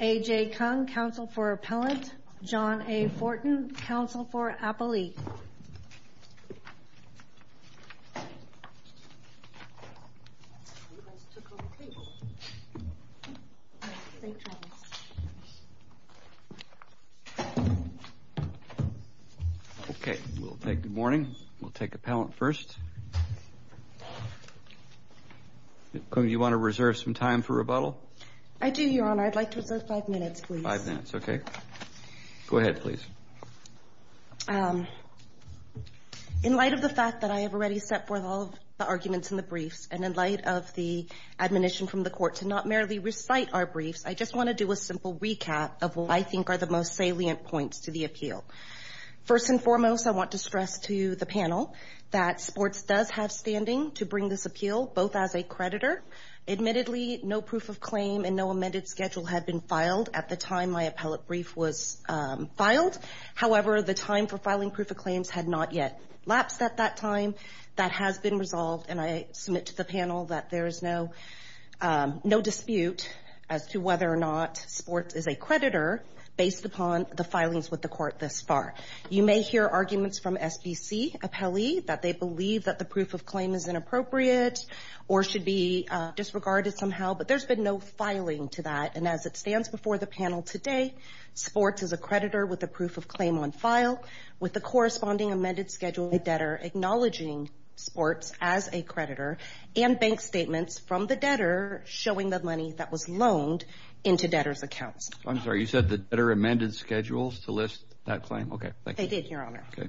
A.J. Kung, counsel for appellant. John A. Fortin, counsel for appellee. Okay, we'll take the morning, we'll take appellant first. A.J. Kung, do you want to reserve some time for rebuttal? I do, Your Honor. I'd like to reserve five minutes, please. Five minutes, okay. Go ahead, please. In light of the fact that I have already set forth all of the arguments in the briefs and in light of the admonition from the court to not merely recite our briefs, I just want to do a simple recap of what I think are the most salient points to the appeal. First and foremost, I want to stress to the panel that sports does have standing to bring this appeal, both as a creditor. Admittedly, no proof of claim and no amended schedule had been filed at the time my appellate brief was filed. However, the time for filing proof of claims had not yet lapsed at that time. That has been resolved, and I submit to the panel that there is no dispute as to whether or not sports is a creditor based upon the filings with the court thus far. You may hear arguments from SBC appellee that they believe that the proof of claim is inappropriate or should be disregarded somehow, but there's been no filing to that, and as it stands before the panel today, sports is a creditor with a proof of claim on file with the corresponding amended schedule debtor acknowledging sports as a creditor and bank statements from the into debtors' accounts. I'm sorry. You said the debtor amended schedules to list that claim? Okay. Thank you. They did, Your Honor. Okay.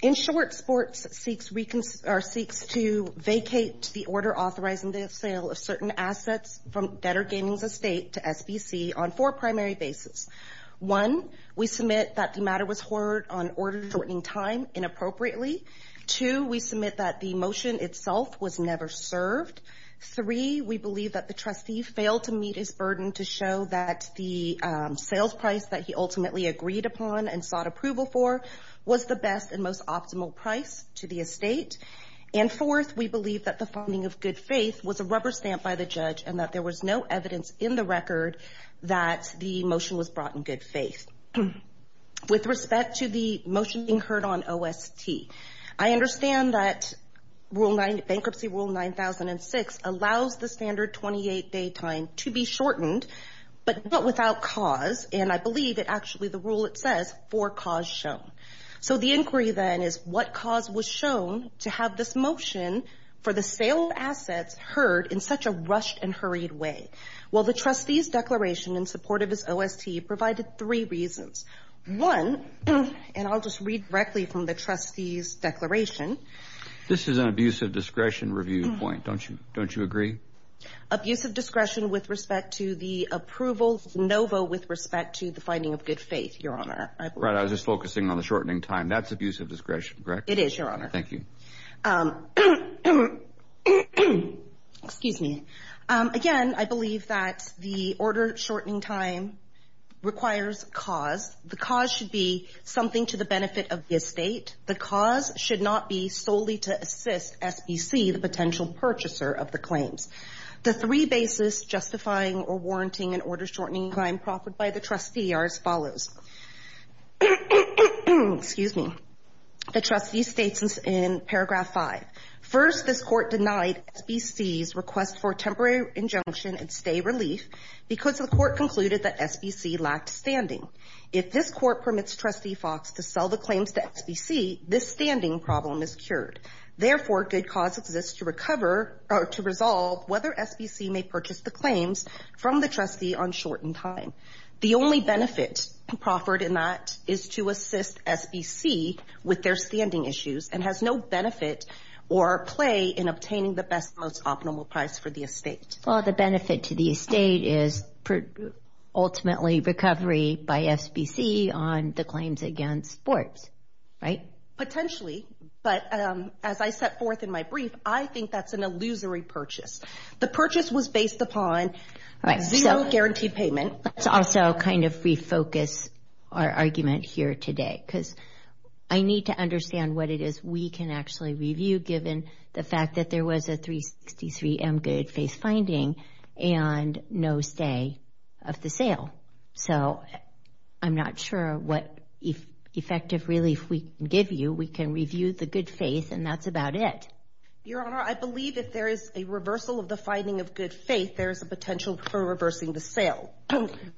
In short, sports seeks to vacate the order authorizing the sale of certain assets from Debtor Gaming's estate to SBC on four primary bases. One, we submit that the matter was heard on order-shortening time inappropriately. Two, we submit that the motion itself was never served. Three, we believe that the trustee failed to meet his burden to show that the sales price that he ultimately agreed upon and sought approval for was the best and most optimal price to the estate, and fourth, we believe that the funding of good faith was a rubber stamp by the judge and that there was no evidence in the record that the motion was brought in good faith. With respect to the motion being heard on OST, I understand that bankruptcy rule 9006 allows the standard 28-day time to be shortened, but not without cause, and I believe that actually the rule, it says, four cause shown. So the inquiry then is what cause was shown to have this motion for the sale of assets heard in such a rushed and hurried way? Well, the trustee's declaration in support of his OST provided three reasons. One, and I'll just read directly from the trustee's declaration. This is an abuse of discretion review point, don't you agree? Abuse of discretion with respect to the approval NOVO with respect to the finding of good faith, Your Honor. Right, I was just focusing on the shortening time. That's abuse of discretion, correct? It is, Your Honor. Thank you. Again, I believe that the order shortening time requires cause. The cause should be something to the benefit of the estate. The cause should not be solely to assist SBC, the potential purchaser of the claims. The three basis justifying or warranting an order shortening time proffered by the trustee are as follows. Excuse me. The trustee states in paragraph five, first, this court denied SBC's request for temporary injunction and stay relief because the court concluded that SBC lacked standing. If this court permits trustee Fox to sell the claims to SBC, this standing problem is cured. Therefore, good cause exists to recover or to resolve whether SBC may purchase the claims from the trustee on shortened time. The only benefit proffered in that is to assist SBC with their standing issues and has no benefit or play in obtaining the best, most optimal price for the estate. Well, the benefit to the estate is ultimately recovery by SBC on the claims against sports, right? Potentially, but as I set forth in my brief, I think that's an illusory purchase. The purchase was based upon zero guaranteed payment. Let's also kind of refocus our argument here today because I need to understand what it is we can actually review given the fact that there was a 363M good, faith finding, and no stay of the sale. So I'm not sure what effective relief we can give you. We can review the good faith and that's about it. Your Honor, I believe if there is a reversal of the finding of good faith, there is a potential for reversing the sale.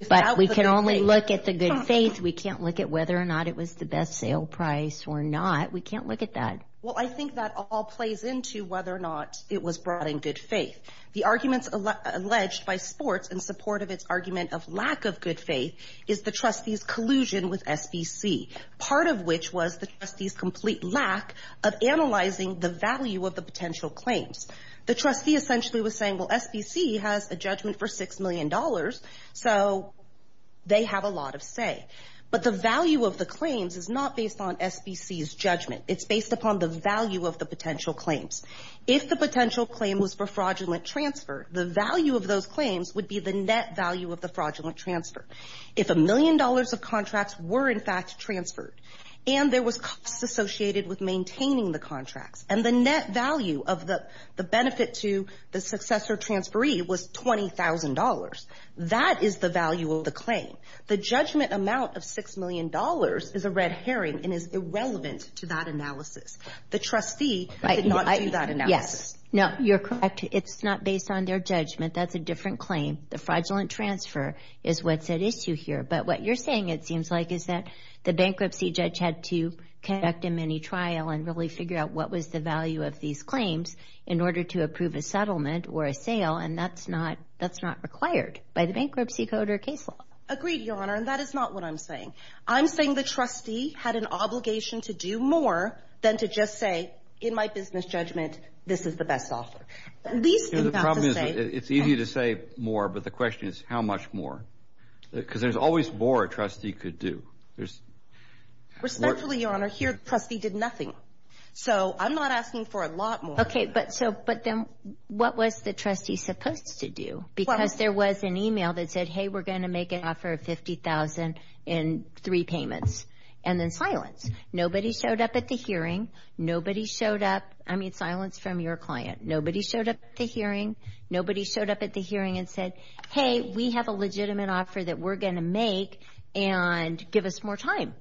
But we can only look at the good faith. We can't look at whether or not it was the best sale price or not. We can't look at that. Well, I think that all plays into whether or not it was brought in good faith. The arguments alleged by sports in support of its argument of lack of good faith is the trustee's collusion with SBC, part of which was the trustee's complete lack of analyzing the value of the potential claims. The trustee essentially was saying, well, SBC has a judgment for $6 million, so they have a lot of say. But the value of the claims is not based on SBC's judgment. It's based upon the value of the potential claims. If the potential claim was for fraudulent transfer, the value of those claims would be the net value of the fraudulent transfer. If a million dollars of contracts were in fact transferred and there was costs associated with maintaining the contracts and the net value of the benefit to the successor transferee was $20,000, that is the value of the claim. The judgment amount of $6 million is a red herring and is irrelevant to that analysis. The trustee did not do that analysis. Yes. No, you're correct. It's not based on their judgment. That's a different claim. The fraudulent transfer is what's at issue here. But what you're saying it seems like is that the bankruptcy judge had to conduct a mini-trial and really figure out what was the value of these claims in order to approve a settlement or a sale. And that's not required by the bankruptcy code or case law. Agreed, Your Honor. And that is not what I'm saying. I'm saying the trustee had an obligation to do more than to just say, in my business judgment, this is the best offer. The problem is, it's easy to say more, but the question is, how much more? Because there's always more a trustee could do. Respectfully, Your Honor, here the trustee did nothing. So I'm not asking for a lot more. Okay, but then what was the trustee supposed to do? Because there was an email that said, hey, we're going to make an offer of $50,000 in three payments. And then silence. Nobody showed up at the hearing. I mean, silence from your client. Nobody showed up at the hearing. Nobody showed up at the hearing and said, hey, we have a legitimate offer that we're going to make and give us more time.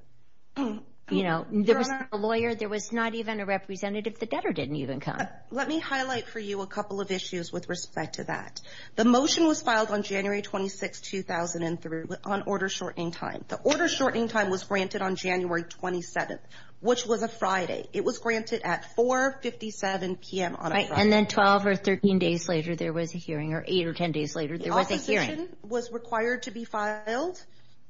You know, there was no lawyer. There was not even a representative. The debtor didn't even come. Let me highlight for you a couple of issues with respect to that. The motion was filed on January 26, 2003 on order shortening time. The order shortening time was granted on January 27, which was a Friday. It was granted at 4.57 p.m. on a Friday. And then 12 or 13 days later, there was a hearing, or 8 or 10 days later, there was a hearing. The opposition was required to be filed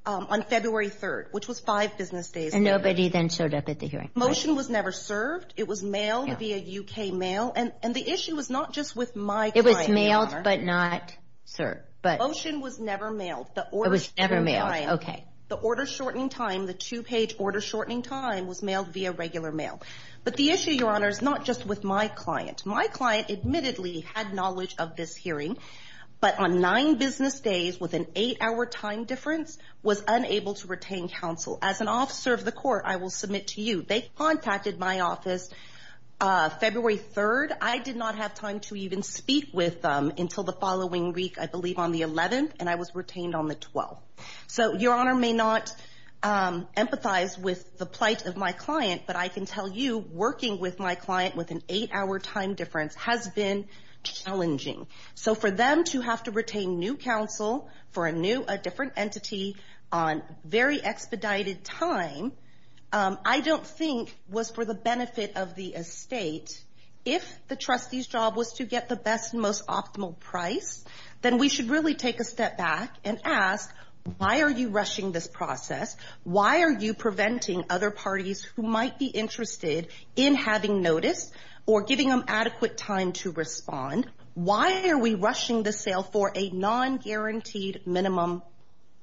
on February 3rd, which was five business days. And nobody then showed up at the hearing. Motion was never served. It was mailed via U.K. mail. And the issue was not just with my client. It was mailed, but not served. Motion was never mailed. It was never mailed, okay. The order shortening time, the two-page order shortening time, was mailed via regular mail. But the issue, Your Honor, is not just with my client. My client admittedly had knowledge of this hearing, but on nine business days, with an eight-hour time difference, was unable to retain counsel. As an officer of the court, I will submit to you, they contacted my office February 3rd. I did not have time to even speak with them until the following week, I believe on the 11th, and I was retained on the 12th. So Your Honor may not empathize with the plight of my client, but I can tell you, working with my client with an eight-hour time difference has been challenging. So for them to have to retain new counsel for a new, a different entity, on very expedited time, I don't think was for the benefit of the estate. If the trustee's job was to get the best and most optimal price, then we should really take a step back and ask, why are you rushing this process? Why are you preventing other parties who might be interested in having notice or giving them adequate time to respond? Why are we rushing the sale for a non-guaranteed minimum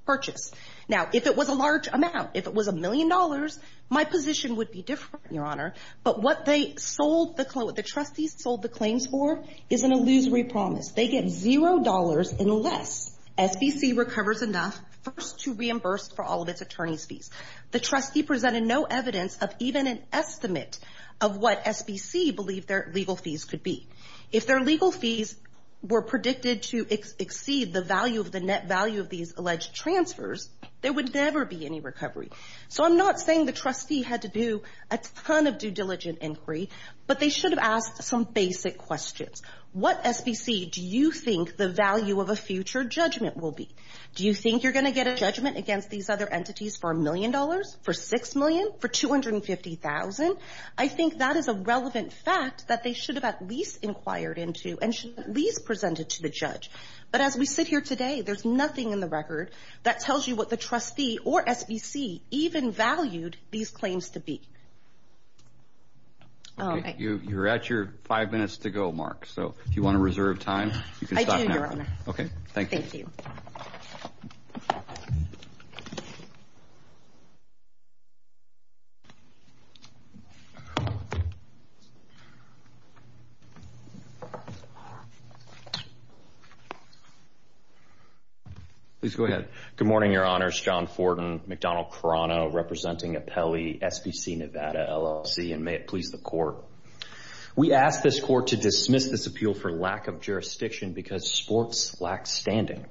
purchase? Now, if it was a large amount, if it was a million dollars, my position would be different, Your Honor. But what they sold, what the trustees sold the claims for, is an illusory promise. They get $0 unless SBC recovers enough first to reimburse for all of its attorney's fees. The trustee presented no evidence of even an estimate of what SBC believed their legal fees could be. If their legal fees were predicted to exceed the net value of these alleged transfers, there would never be any recovery. So I'm not saying the trustee had to do a ton of due diligence inquiry, but they should have asked some basic questions. What SBC do you think the value of a future judgment will be? Do you think you're going to get a judgment against these other entities for a million dollars, for $6 million, for $250,000? I think that is a relevant fact that they should have at least inquired into and should have at least presented to the judge. But as we sit here today, there's nothing in the record that tells you what the trustee or SBC even valued these claims to be. Okay, you're at your five minutes to go, Mark. So if you want to reserve time, you can stop now. I do, Your Honor. Okay, thank you. Thank you. Please go ahead. Good morning, Your Honors. John Forden, McDonnell Crano, representing Apelli, SBC Nevada LLC, and may it please the Court. We ask this Court to dismiss this appeal for lack of jurisdiction because sports lack standing.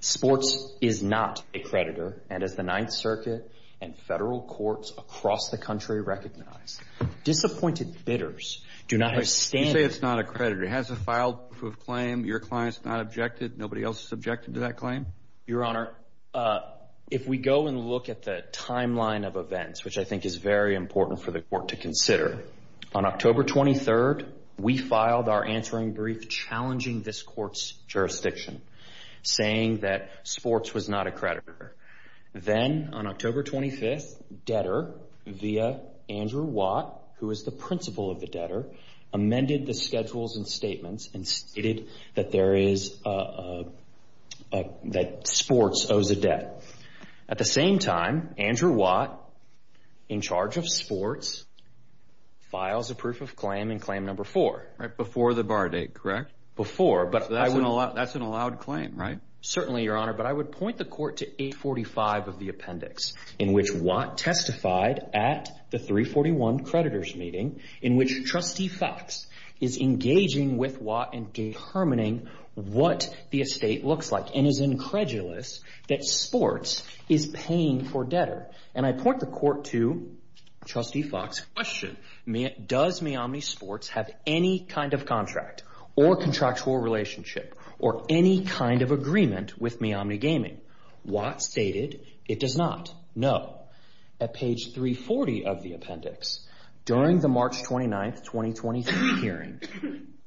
Sports is not a creditor, and as the Ninth Circuit and federal courts across the country recognize, disappointed bidders do not have standing. You say it's not a creditor. It has a filed proof of claim. Your client's not objected. Nobody else is objected to that claim? Your Honor, if we go and look at the timeline of events, which I think is very important for the Court to consider, on October 23rd, we filed our answering brief challenging this Court's jurisdiction, saying that sports was not a creditor. Then, on October 25th, debtor via Andrew Watt, who is the principal of the debtor, amended the schedules and statements and stated that sports owes a debt. At the same time, Andrew Watt, in charge of sports, files a proof of claim in Claim Number 4. Right before the bar date, correct? Before, but I would... So that's an allowed claim, right? Certainly, Your Honor, but I would point the Court to 845 of the appendix, in which Watt testified at the 341 creditors' meeting, in which Trustee Foxx is engaging with Watt in determining what the estate looks like and is incredulous that sports is paying for debtor. And I point the Court to Trustee Foxx's question. Does Miami Sports have any kind of contract or contractual relationship or any kind of agreement with Miami Gaming? Watt stated it does not. No. At page 340 of the appendix, during the March 29th, 2023, hearing,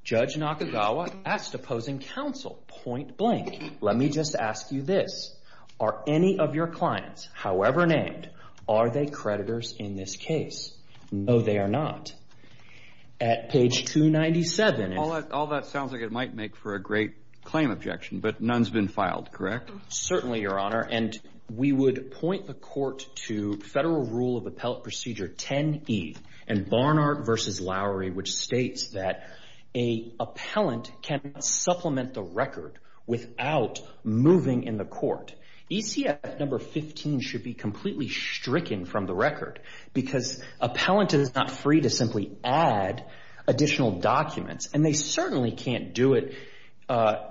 Judge Nakagawa asked opposing counsel, point blank, let me just ask you this. Are any of your clients, however named, are they creditors in this case? No, they are not. At page 297... All that sounds like it might make for a great claim objection, but none's been filed, correct? Certainly, Your Honor. We would point the Court to Federal Rule of Appellate Procedure 10E, in Barnard v. Lowry, which states that an appellant cannot supplement the record without moving in the court. ECF No. 15 should be completely stricken from the record, because an appellant is not free to simply add additional documents, and they certainly can't do it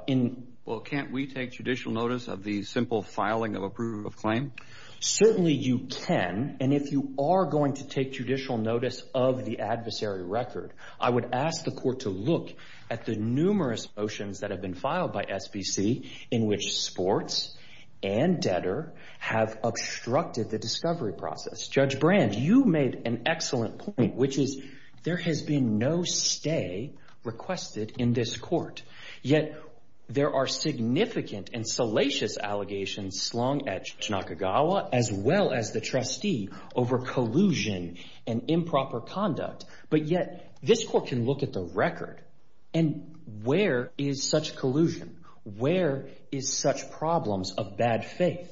in... Well, can't we take judicial notice of the simple filing of a proof of claim? Certainly you can, and if you are going to take judicial notice of the adversary record, I would ask the Court to look at the numerous motions that have been filed by SBC in which sports and debtor have obstructed the discovery process. Judge Brand, you made an excellent point, which is there has been no stay requested in this court, yet there are significant and salacious allegations slung at Tanakagawa as well as the trustee over collusion and improper conduct, but yet this court can look at the record, and where is such collusion? Where is such problems of bad faith?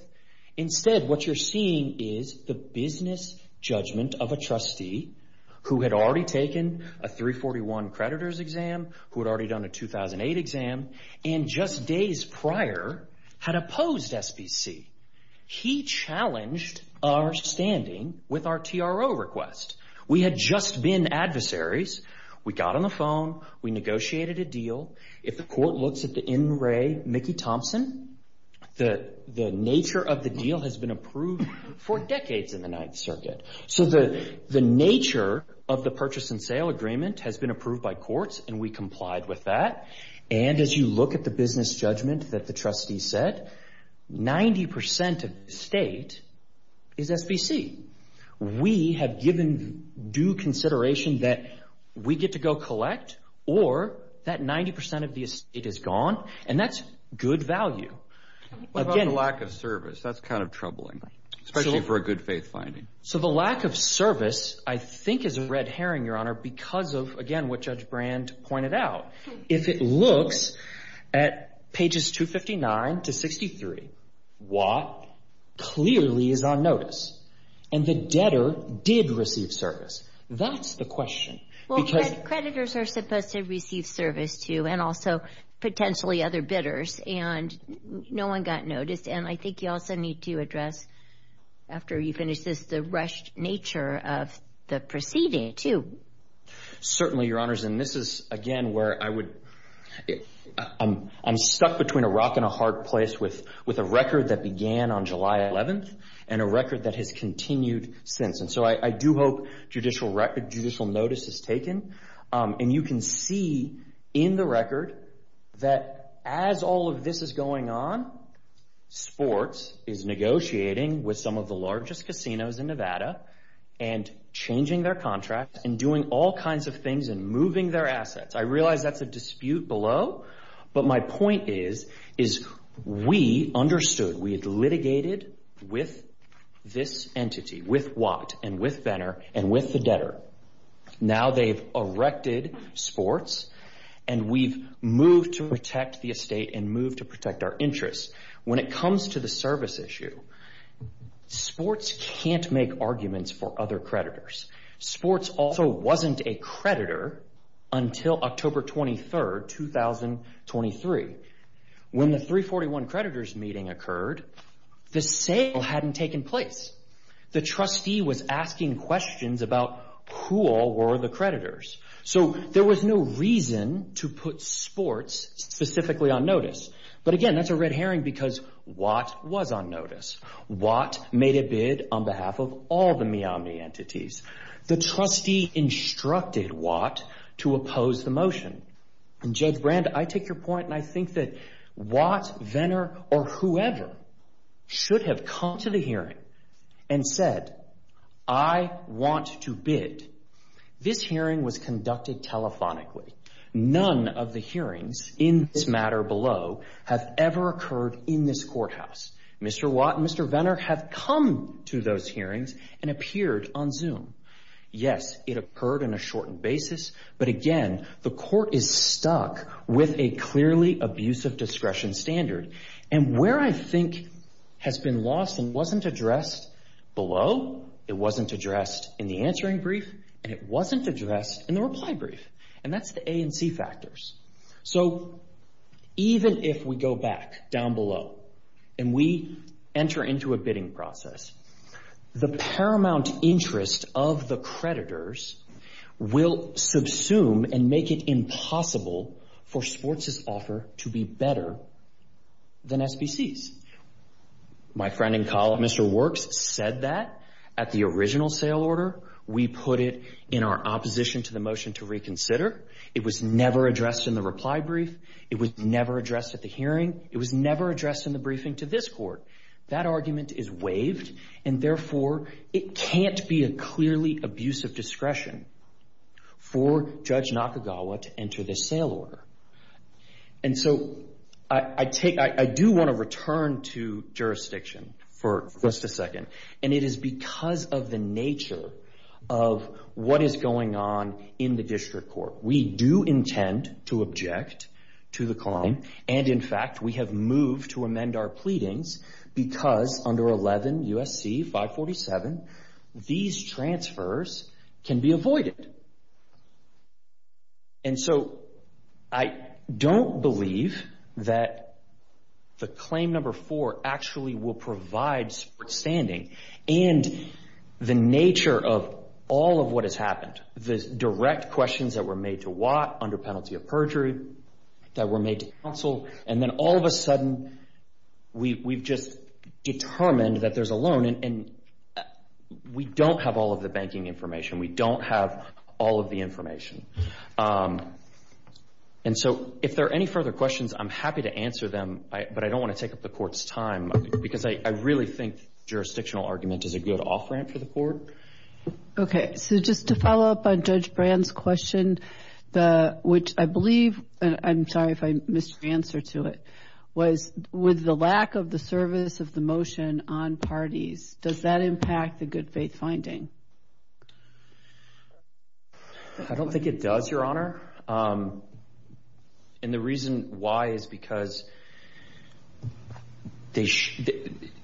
Instead, what you're seeing is the business judgment of a trustee who had already taken a 341 creditor's exam, who had already done a 2008 exam, and just days prior had opposed SBC. He challenged our standing with our TRO request. We had just been adversaries. We got on the phone. We negotiated a deal. If the court looks at the in re Mickey Thompson, the nature of the deal has been approved for decades in the Ninth Circuit. The nature of the purchase and sale agreement has been approved by courts, and we complied with that. As you look at the business judgment that the trustee set, 90% of the estate is SBC. We have given due consideration that we get to go collect, or that 90% of the estate is gone, and that's good value. What about the lack of service? That's troubling, especially for a good faith finding. The lack of service, I think, is a red herring, Your Honor, because of, again, what Judge Brand pointed out. If it looks at pages 259 to 63, Watt clearly is on notice, and the debtor did receive service. That's the question. Well, the creditors are supposed to receive service, too, and also potentially other bidders, and no one got noticed. I think you also need to address, after you finish this, the rushed nature of the proceeding, too. Certainly, Your Honors, and this is, again, where I would... I'm stuck between a rock and a hard place with a record that began on July 11th, and a record that has continued since. I do hope judicial notice is taken, and you can see in the record that as all of this is going on, sports is negotiating with some of the largest casinos in Nevada, and changing their contracts, and doing all kinds of things, and moving their assets. I realize that's a dispute below, but my point is, we understood. We had litigated with this entity, with Watt, and with Benner, and with the debtor. Now they've erected sports, and we've moved to protect the estate, and moved to protect our interests. When it comes to the service issue, sports can't make arguments for other creditors. Sports also wasn't a creditor until October 23rd, 2023. When the 341 creditors meeting occurred, the sale hadn't taken place. The trustee was asking questions about who all were the creditors, so there was no reason to put sports specifically on notice, but again, that's a red herring because Watt was on notice. Watt made a bid on behalf of all the MIAMI entities. The trustee instructed Watt to oppose the motion, and Judge Brand, I take your point, and I think that Watt, Benner, or whoever should have come to the hearing and said, I want to bid. This hearing was conducted telephonically. None of the hearings in this matter below have ever occurred in this courthouse. Mr. Watt and Mr. Benner have come to those hearings and appeared on Zoom. Yes, it occurred on a shortened basis, but again, the court is stuck with a clearly abusive discretion standard, and where I think has been lost and wasn't addressed below, it wasn't addressed in the answering brief, and it wasn't addressed in the reply brief. That's the A and C factors. So even if we go back down below and we enter into a bidding process, the paramount interest of the creditors will subsume and make it impossible for sports' offer to be better than SBC's. My friend and colleague, Mr. Works, said that at the original sale order. We put it in our opposition to the motion to reconsider. It was never addressed in the reply brief. It was never addressed at the hearing. It was never addressed in the briefing to this court. That argument is waived, and therefore, it can't be a clearly abusive discretion for Judge Nakagawa to enter this sale order. And so I do want to return to jurisdiction for just a second, and it is because of the We do intend to object to the claim, and in fact, we have moved to amend our pleadings because under 11 U.S.C. 547, these transfers can be avoided. And so I don't believe that the claim number four actually will provide support standing, and the nature of all of what has happened, the direct questions that were made to Watt under penalty of perjury, that were made to counsel, and then all of a sudden, we've just determined that there's a loan, and we don't have all of the banking information. We don't have all of the information. And so if there are any further questions, I'm happy to answer them, but I don't really think jurisdictional argument is a good off-ramp for the court. Okay. So just to follow up on Judge Brand's question, which I believe, and I'm sorry if I missed your answer to it, was with the lack of the service of the motion on parties, does that impact the good faith finding? I don't think it does, Your Honor. And the reason why is because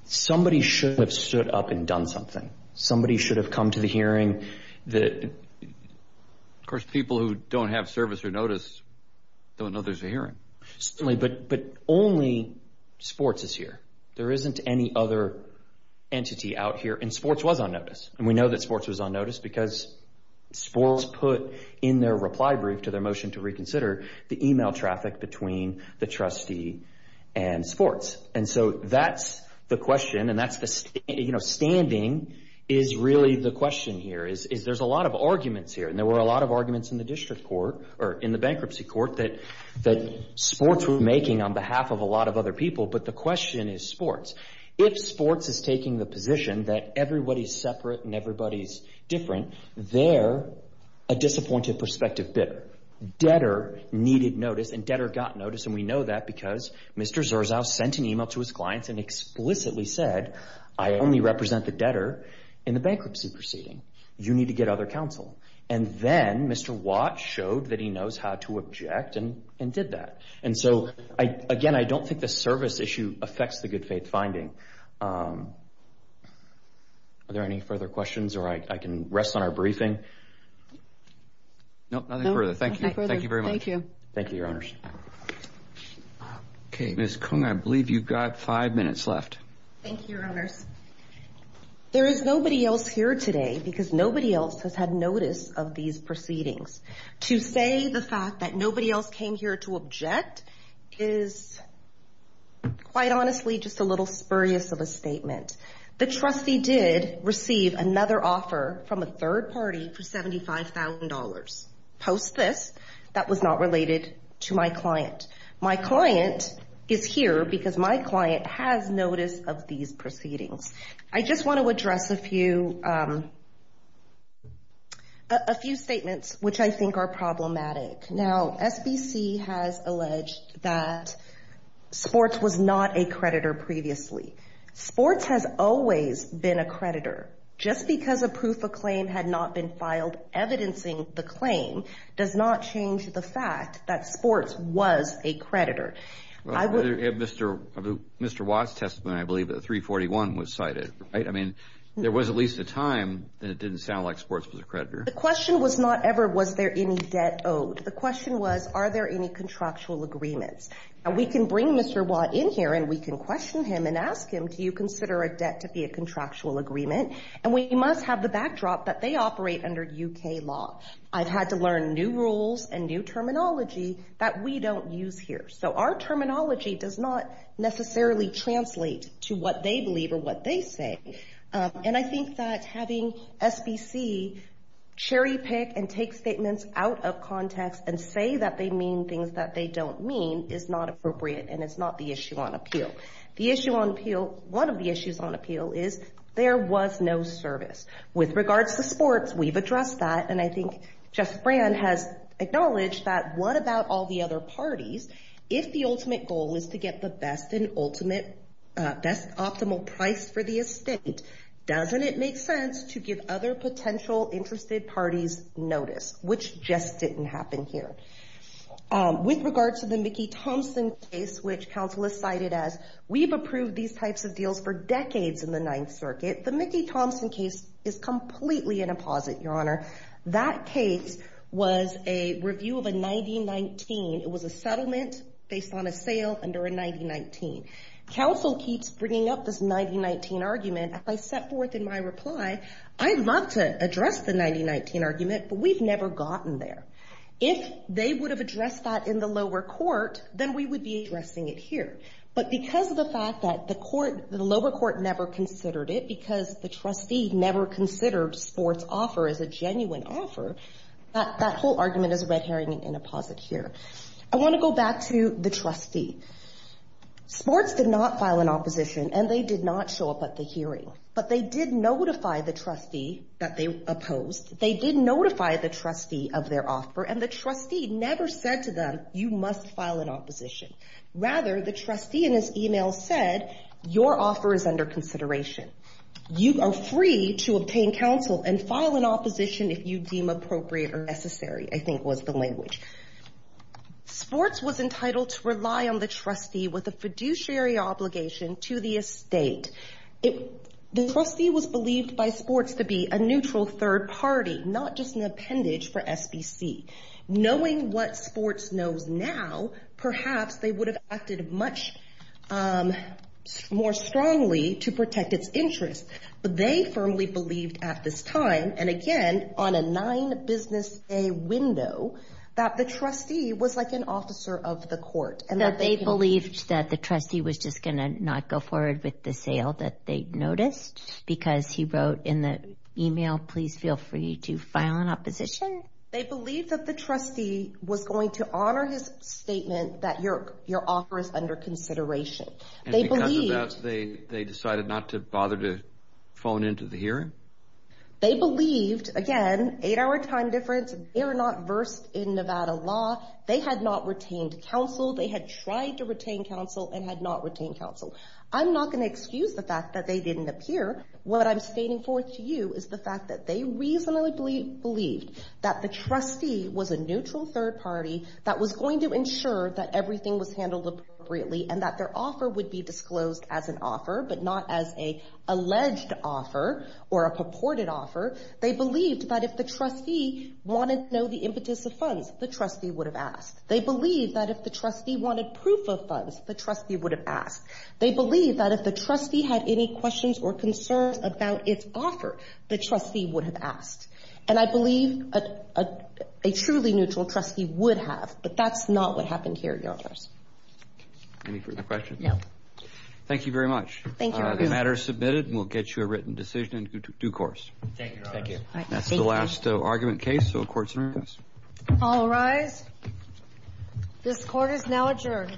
somebody should have stood up and done something. Somebody should have come to the hearing that... Of course, people who don't have service or notice don't know there's a hearing. But only sports is here. There isn't any other entity out here, and sports was on notice. We know that sports was on notice because sports put in their reply brief to their motion to reconsider the email traffic between the trustee and sports. And so that's the question, and standing is really the question here, is there's a lot of arguments here. And there were a lot of arguments in the district court, or in the bankruptcy court, that sports were making on behalf of a lot of other people, but the question is sports. If sports is taking the position that everybody's separate and everybody's different, they're a disappointed perspective bidder. Debtor needed notice, and debtor got notice, and we know that because Mr. Zerzow sent an email to his clients and explicitly said, I only represent the debtor in the bankruptcy proceeding. You need to get other counsel. And then Mr. Watt showed that he knows how to object and did that. And so, again, I don't think the service issue affects the good faith finding. Are there any further questions, or I can rest on our briefing? No, nothing further. Thank you. Thank you very much. Thank you. Thank you, your honors. Okay, Ms. Kung, I believe you've got five minutes left. Thank you, your honors. There is nobody else here today, because nobody else has had notice of these proceedings. To say the fact that nobody else came here to object is, quite honestly, just a little spurious of a statement. The trustee did receive another offer from a third party for $75,000 post this. That was not related to my client. My client is here because my client has notice of these proceedings. I just want to address a few statements which I think are problematic. Now, SBC has alleged that sports was not a creditor previously. Sports has always been a creditor. Just because a proof of claim had not been filed evidencing the claim does not change the fact that sports was a creditor. Mr. Watt's testimony, I believe, at 341 was cited, right? I mean, there was at least a time that it didn't sound like sports was a creditor. The question was not ever, was there any debt owed? The question was, are there any contractual agreements? We can bring Mr. Watt in here, and we can question him and ask him, do you consider a debt to be a contractual agreement? We must have the backdrop that they operate under U.K. law. I've had to learn new rules and new terminology that we don't use here. So our terminology does not necessarily translate to what they believe or what they say. And I think that having SBC cherry-pick and take statements out of context and say that they mean things that they don't mean is not appropriate, and it's not the issue on appeal. The issue on appeal, one of the issues on appeal, is there was no service. With regards to sports, we've addressed that. And I think Jeff Brand has acknowledged that what about all the other parties? If the ultimate goal is to get the best and ultimate, best optimal price for the estate, doesn't it make sense to give other potential interested parties notice, which just didn't happen here? With regards to the Mickey Thompson case, which counsel has cited as, we've approved these types of deals for decades in the Ninth Circuit, the Mickey Thompson case is completely an apposite, Your Honor. That case was a review of a 90-19. It was a settlement based on a sale under a 90-19. Counsel keeps bringing up this 90-19 argument, and I set forth in my reply, I'd love to address the 90-19 argument, but we've never gotten there. If they would have addressed that in the lower court, then we would be addressing it here. But because of the fact that the lower court never considered it, because the trustee never considered sports offer as a genuine offer, that whole argument is a red herring and an apposite here. I want to go back to the trustee. Sports did not file an opposition, and they did not show up at the hearing. But they did notify the trustee that they opposed. They did notify the trustee of their offer, and the trustee never said to them, you must file an opposition. Rather, the trustee in his email said, your offer is under consideration. You are free to obtain counsel and file an opposition if you deem appropriate or necessary, I think was the language. Sports was entitled to rely on the trustee with a fiduciary obligation to the estate. The trustee was believed by sports to be a neutral third party, not just an appendage for SBC. Knowing what sports knows now, perhaps they would have acted much more strongly to protect its interest. But they firmly believed at this time, and again, on a nine business day window, that the trustee was like an officer of the court. They believed that the trustee was just going to not go forward with the sale that they noticed, because he wrote in the email, please feel free to file an opposition. They believed that the trustee was going to honor his statement that your offer is under consideration. And because of that, they decided not to bother to phone into the hearing? They believed, again, eight hour time difference, they're not versed in Nevada law, they had not retained counsel, they had tried to retain counsel and had not retained counsel. I'm not going to excuse the fact that they didn't appear. What I'm stating forth to you is the fact that they reasonably believed that the trustee was a neutral third party that was going to ensure that everything was handled appropriately and that their offer would be disclosed as an offer, but not as a alleged offer or a purported offer. They believed that if the trustee wanted to know the impetus of funds, the trustee would have asked. They believe that if the trustee wanted proof of funds, the trustee would have asked. They believe that if the trustee had any questions or concerns about its offer, the trustee would have asked. And I believe a truly neutral trustee would have, but that's not what happened here, Your Honors. Any further questions? No. Thank you very much. Thank you, Your Honors. The matter is submitted and we'll get you a written decision in due course. Thank you, Your Honors. Thank you. That's the last argument case, so the Court's adjourned. All rise. This Court is now adjourned.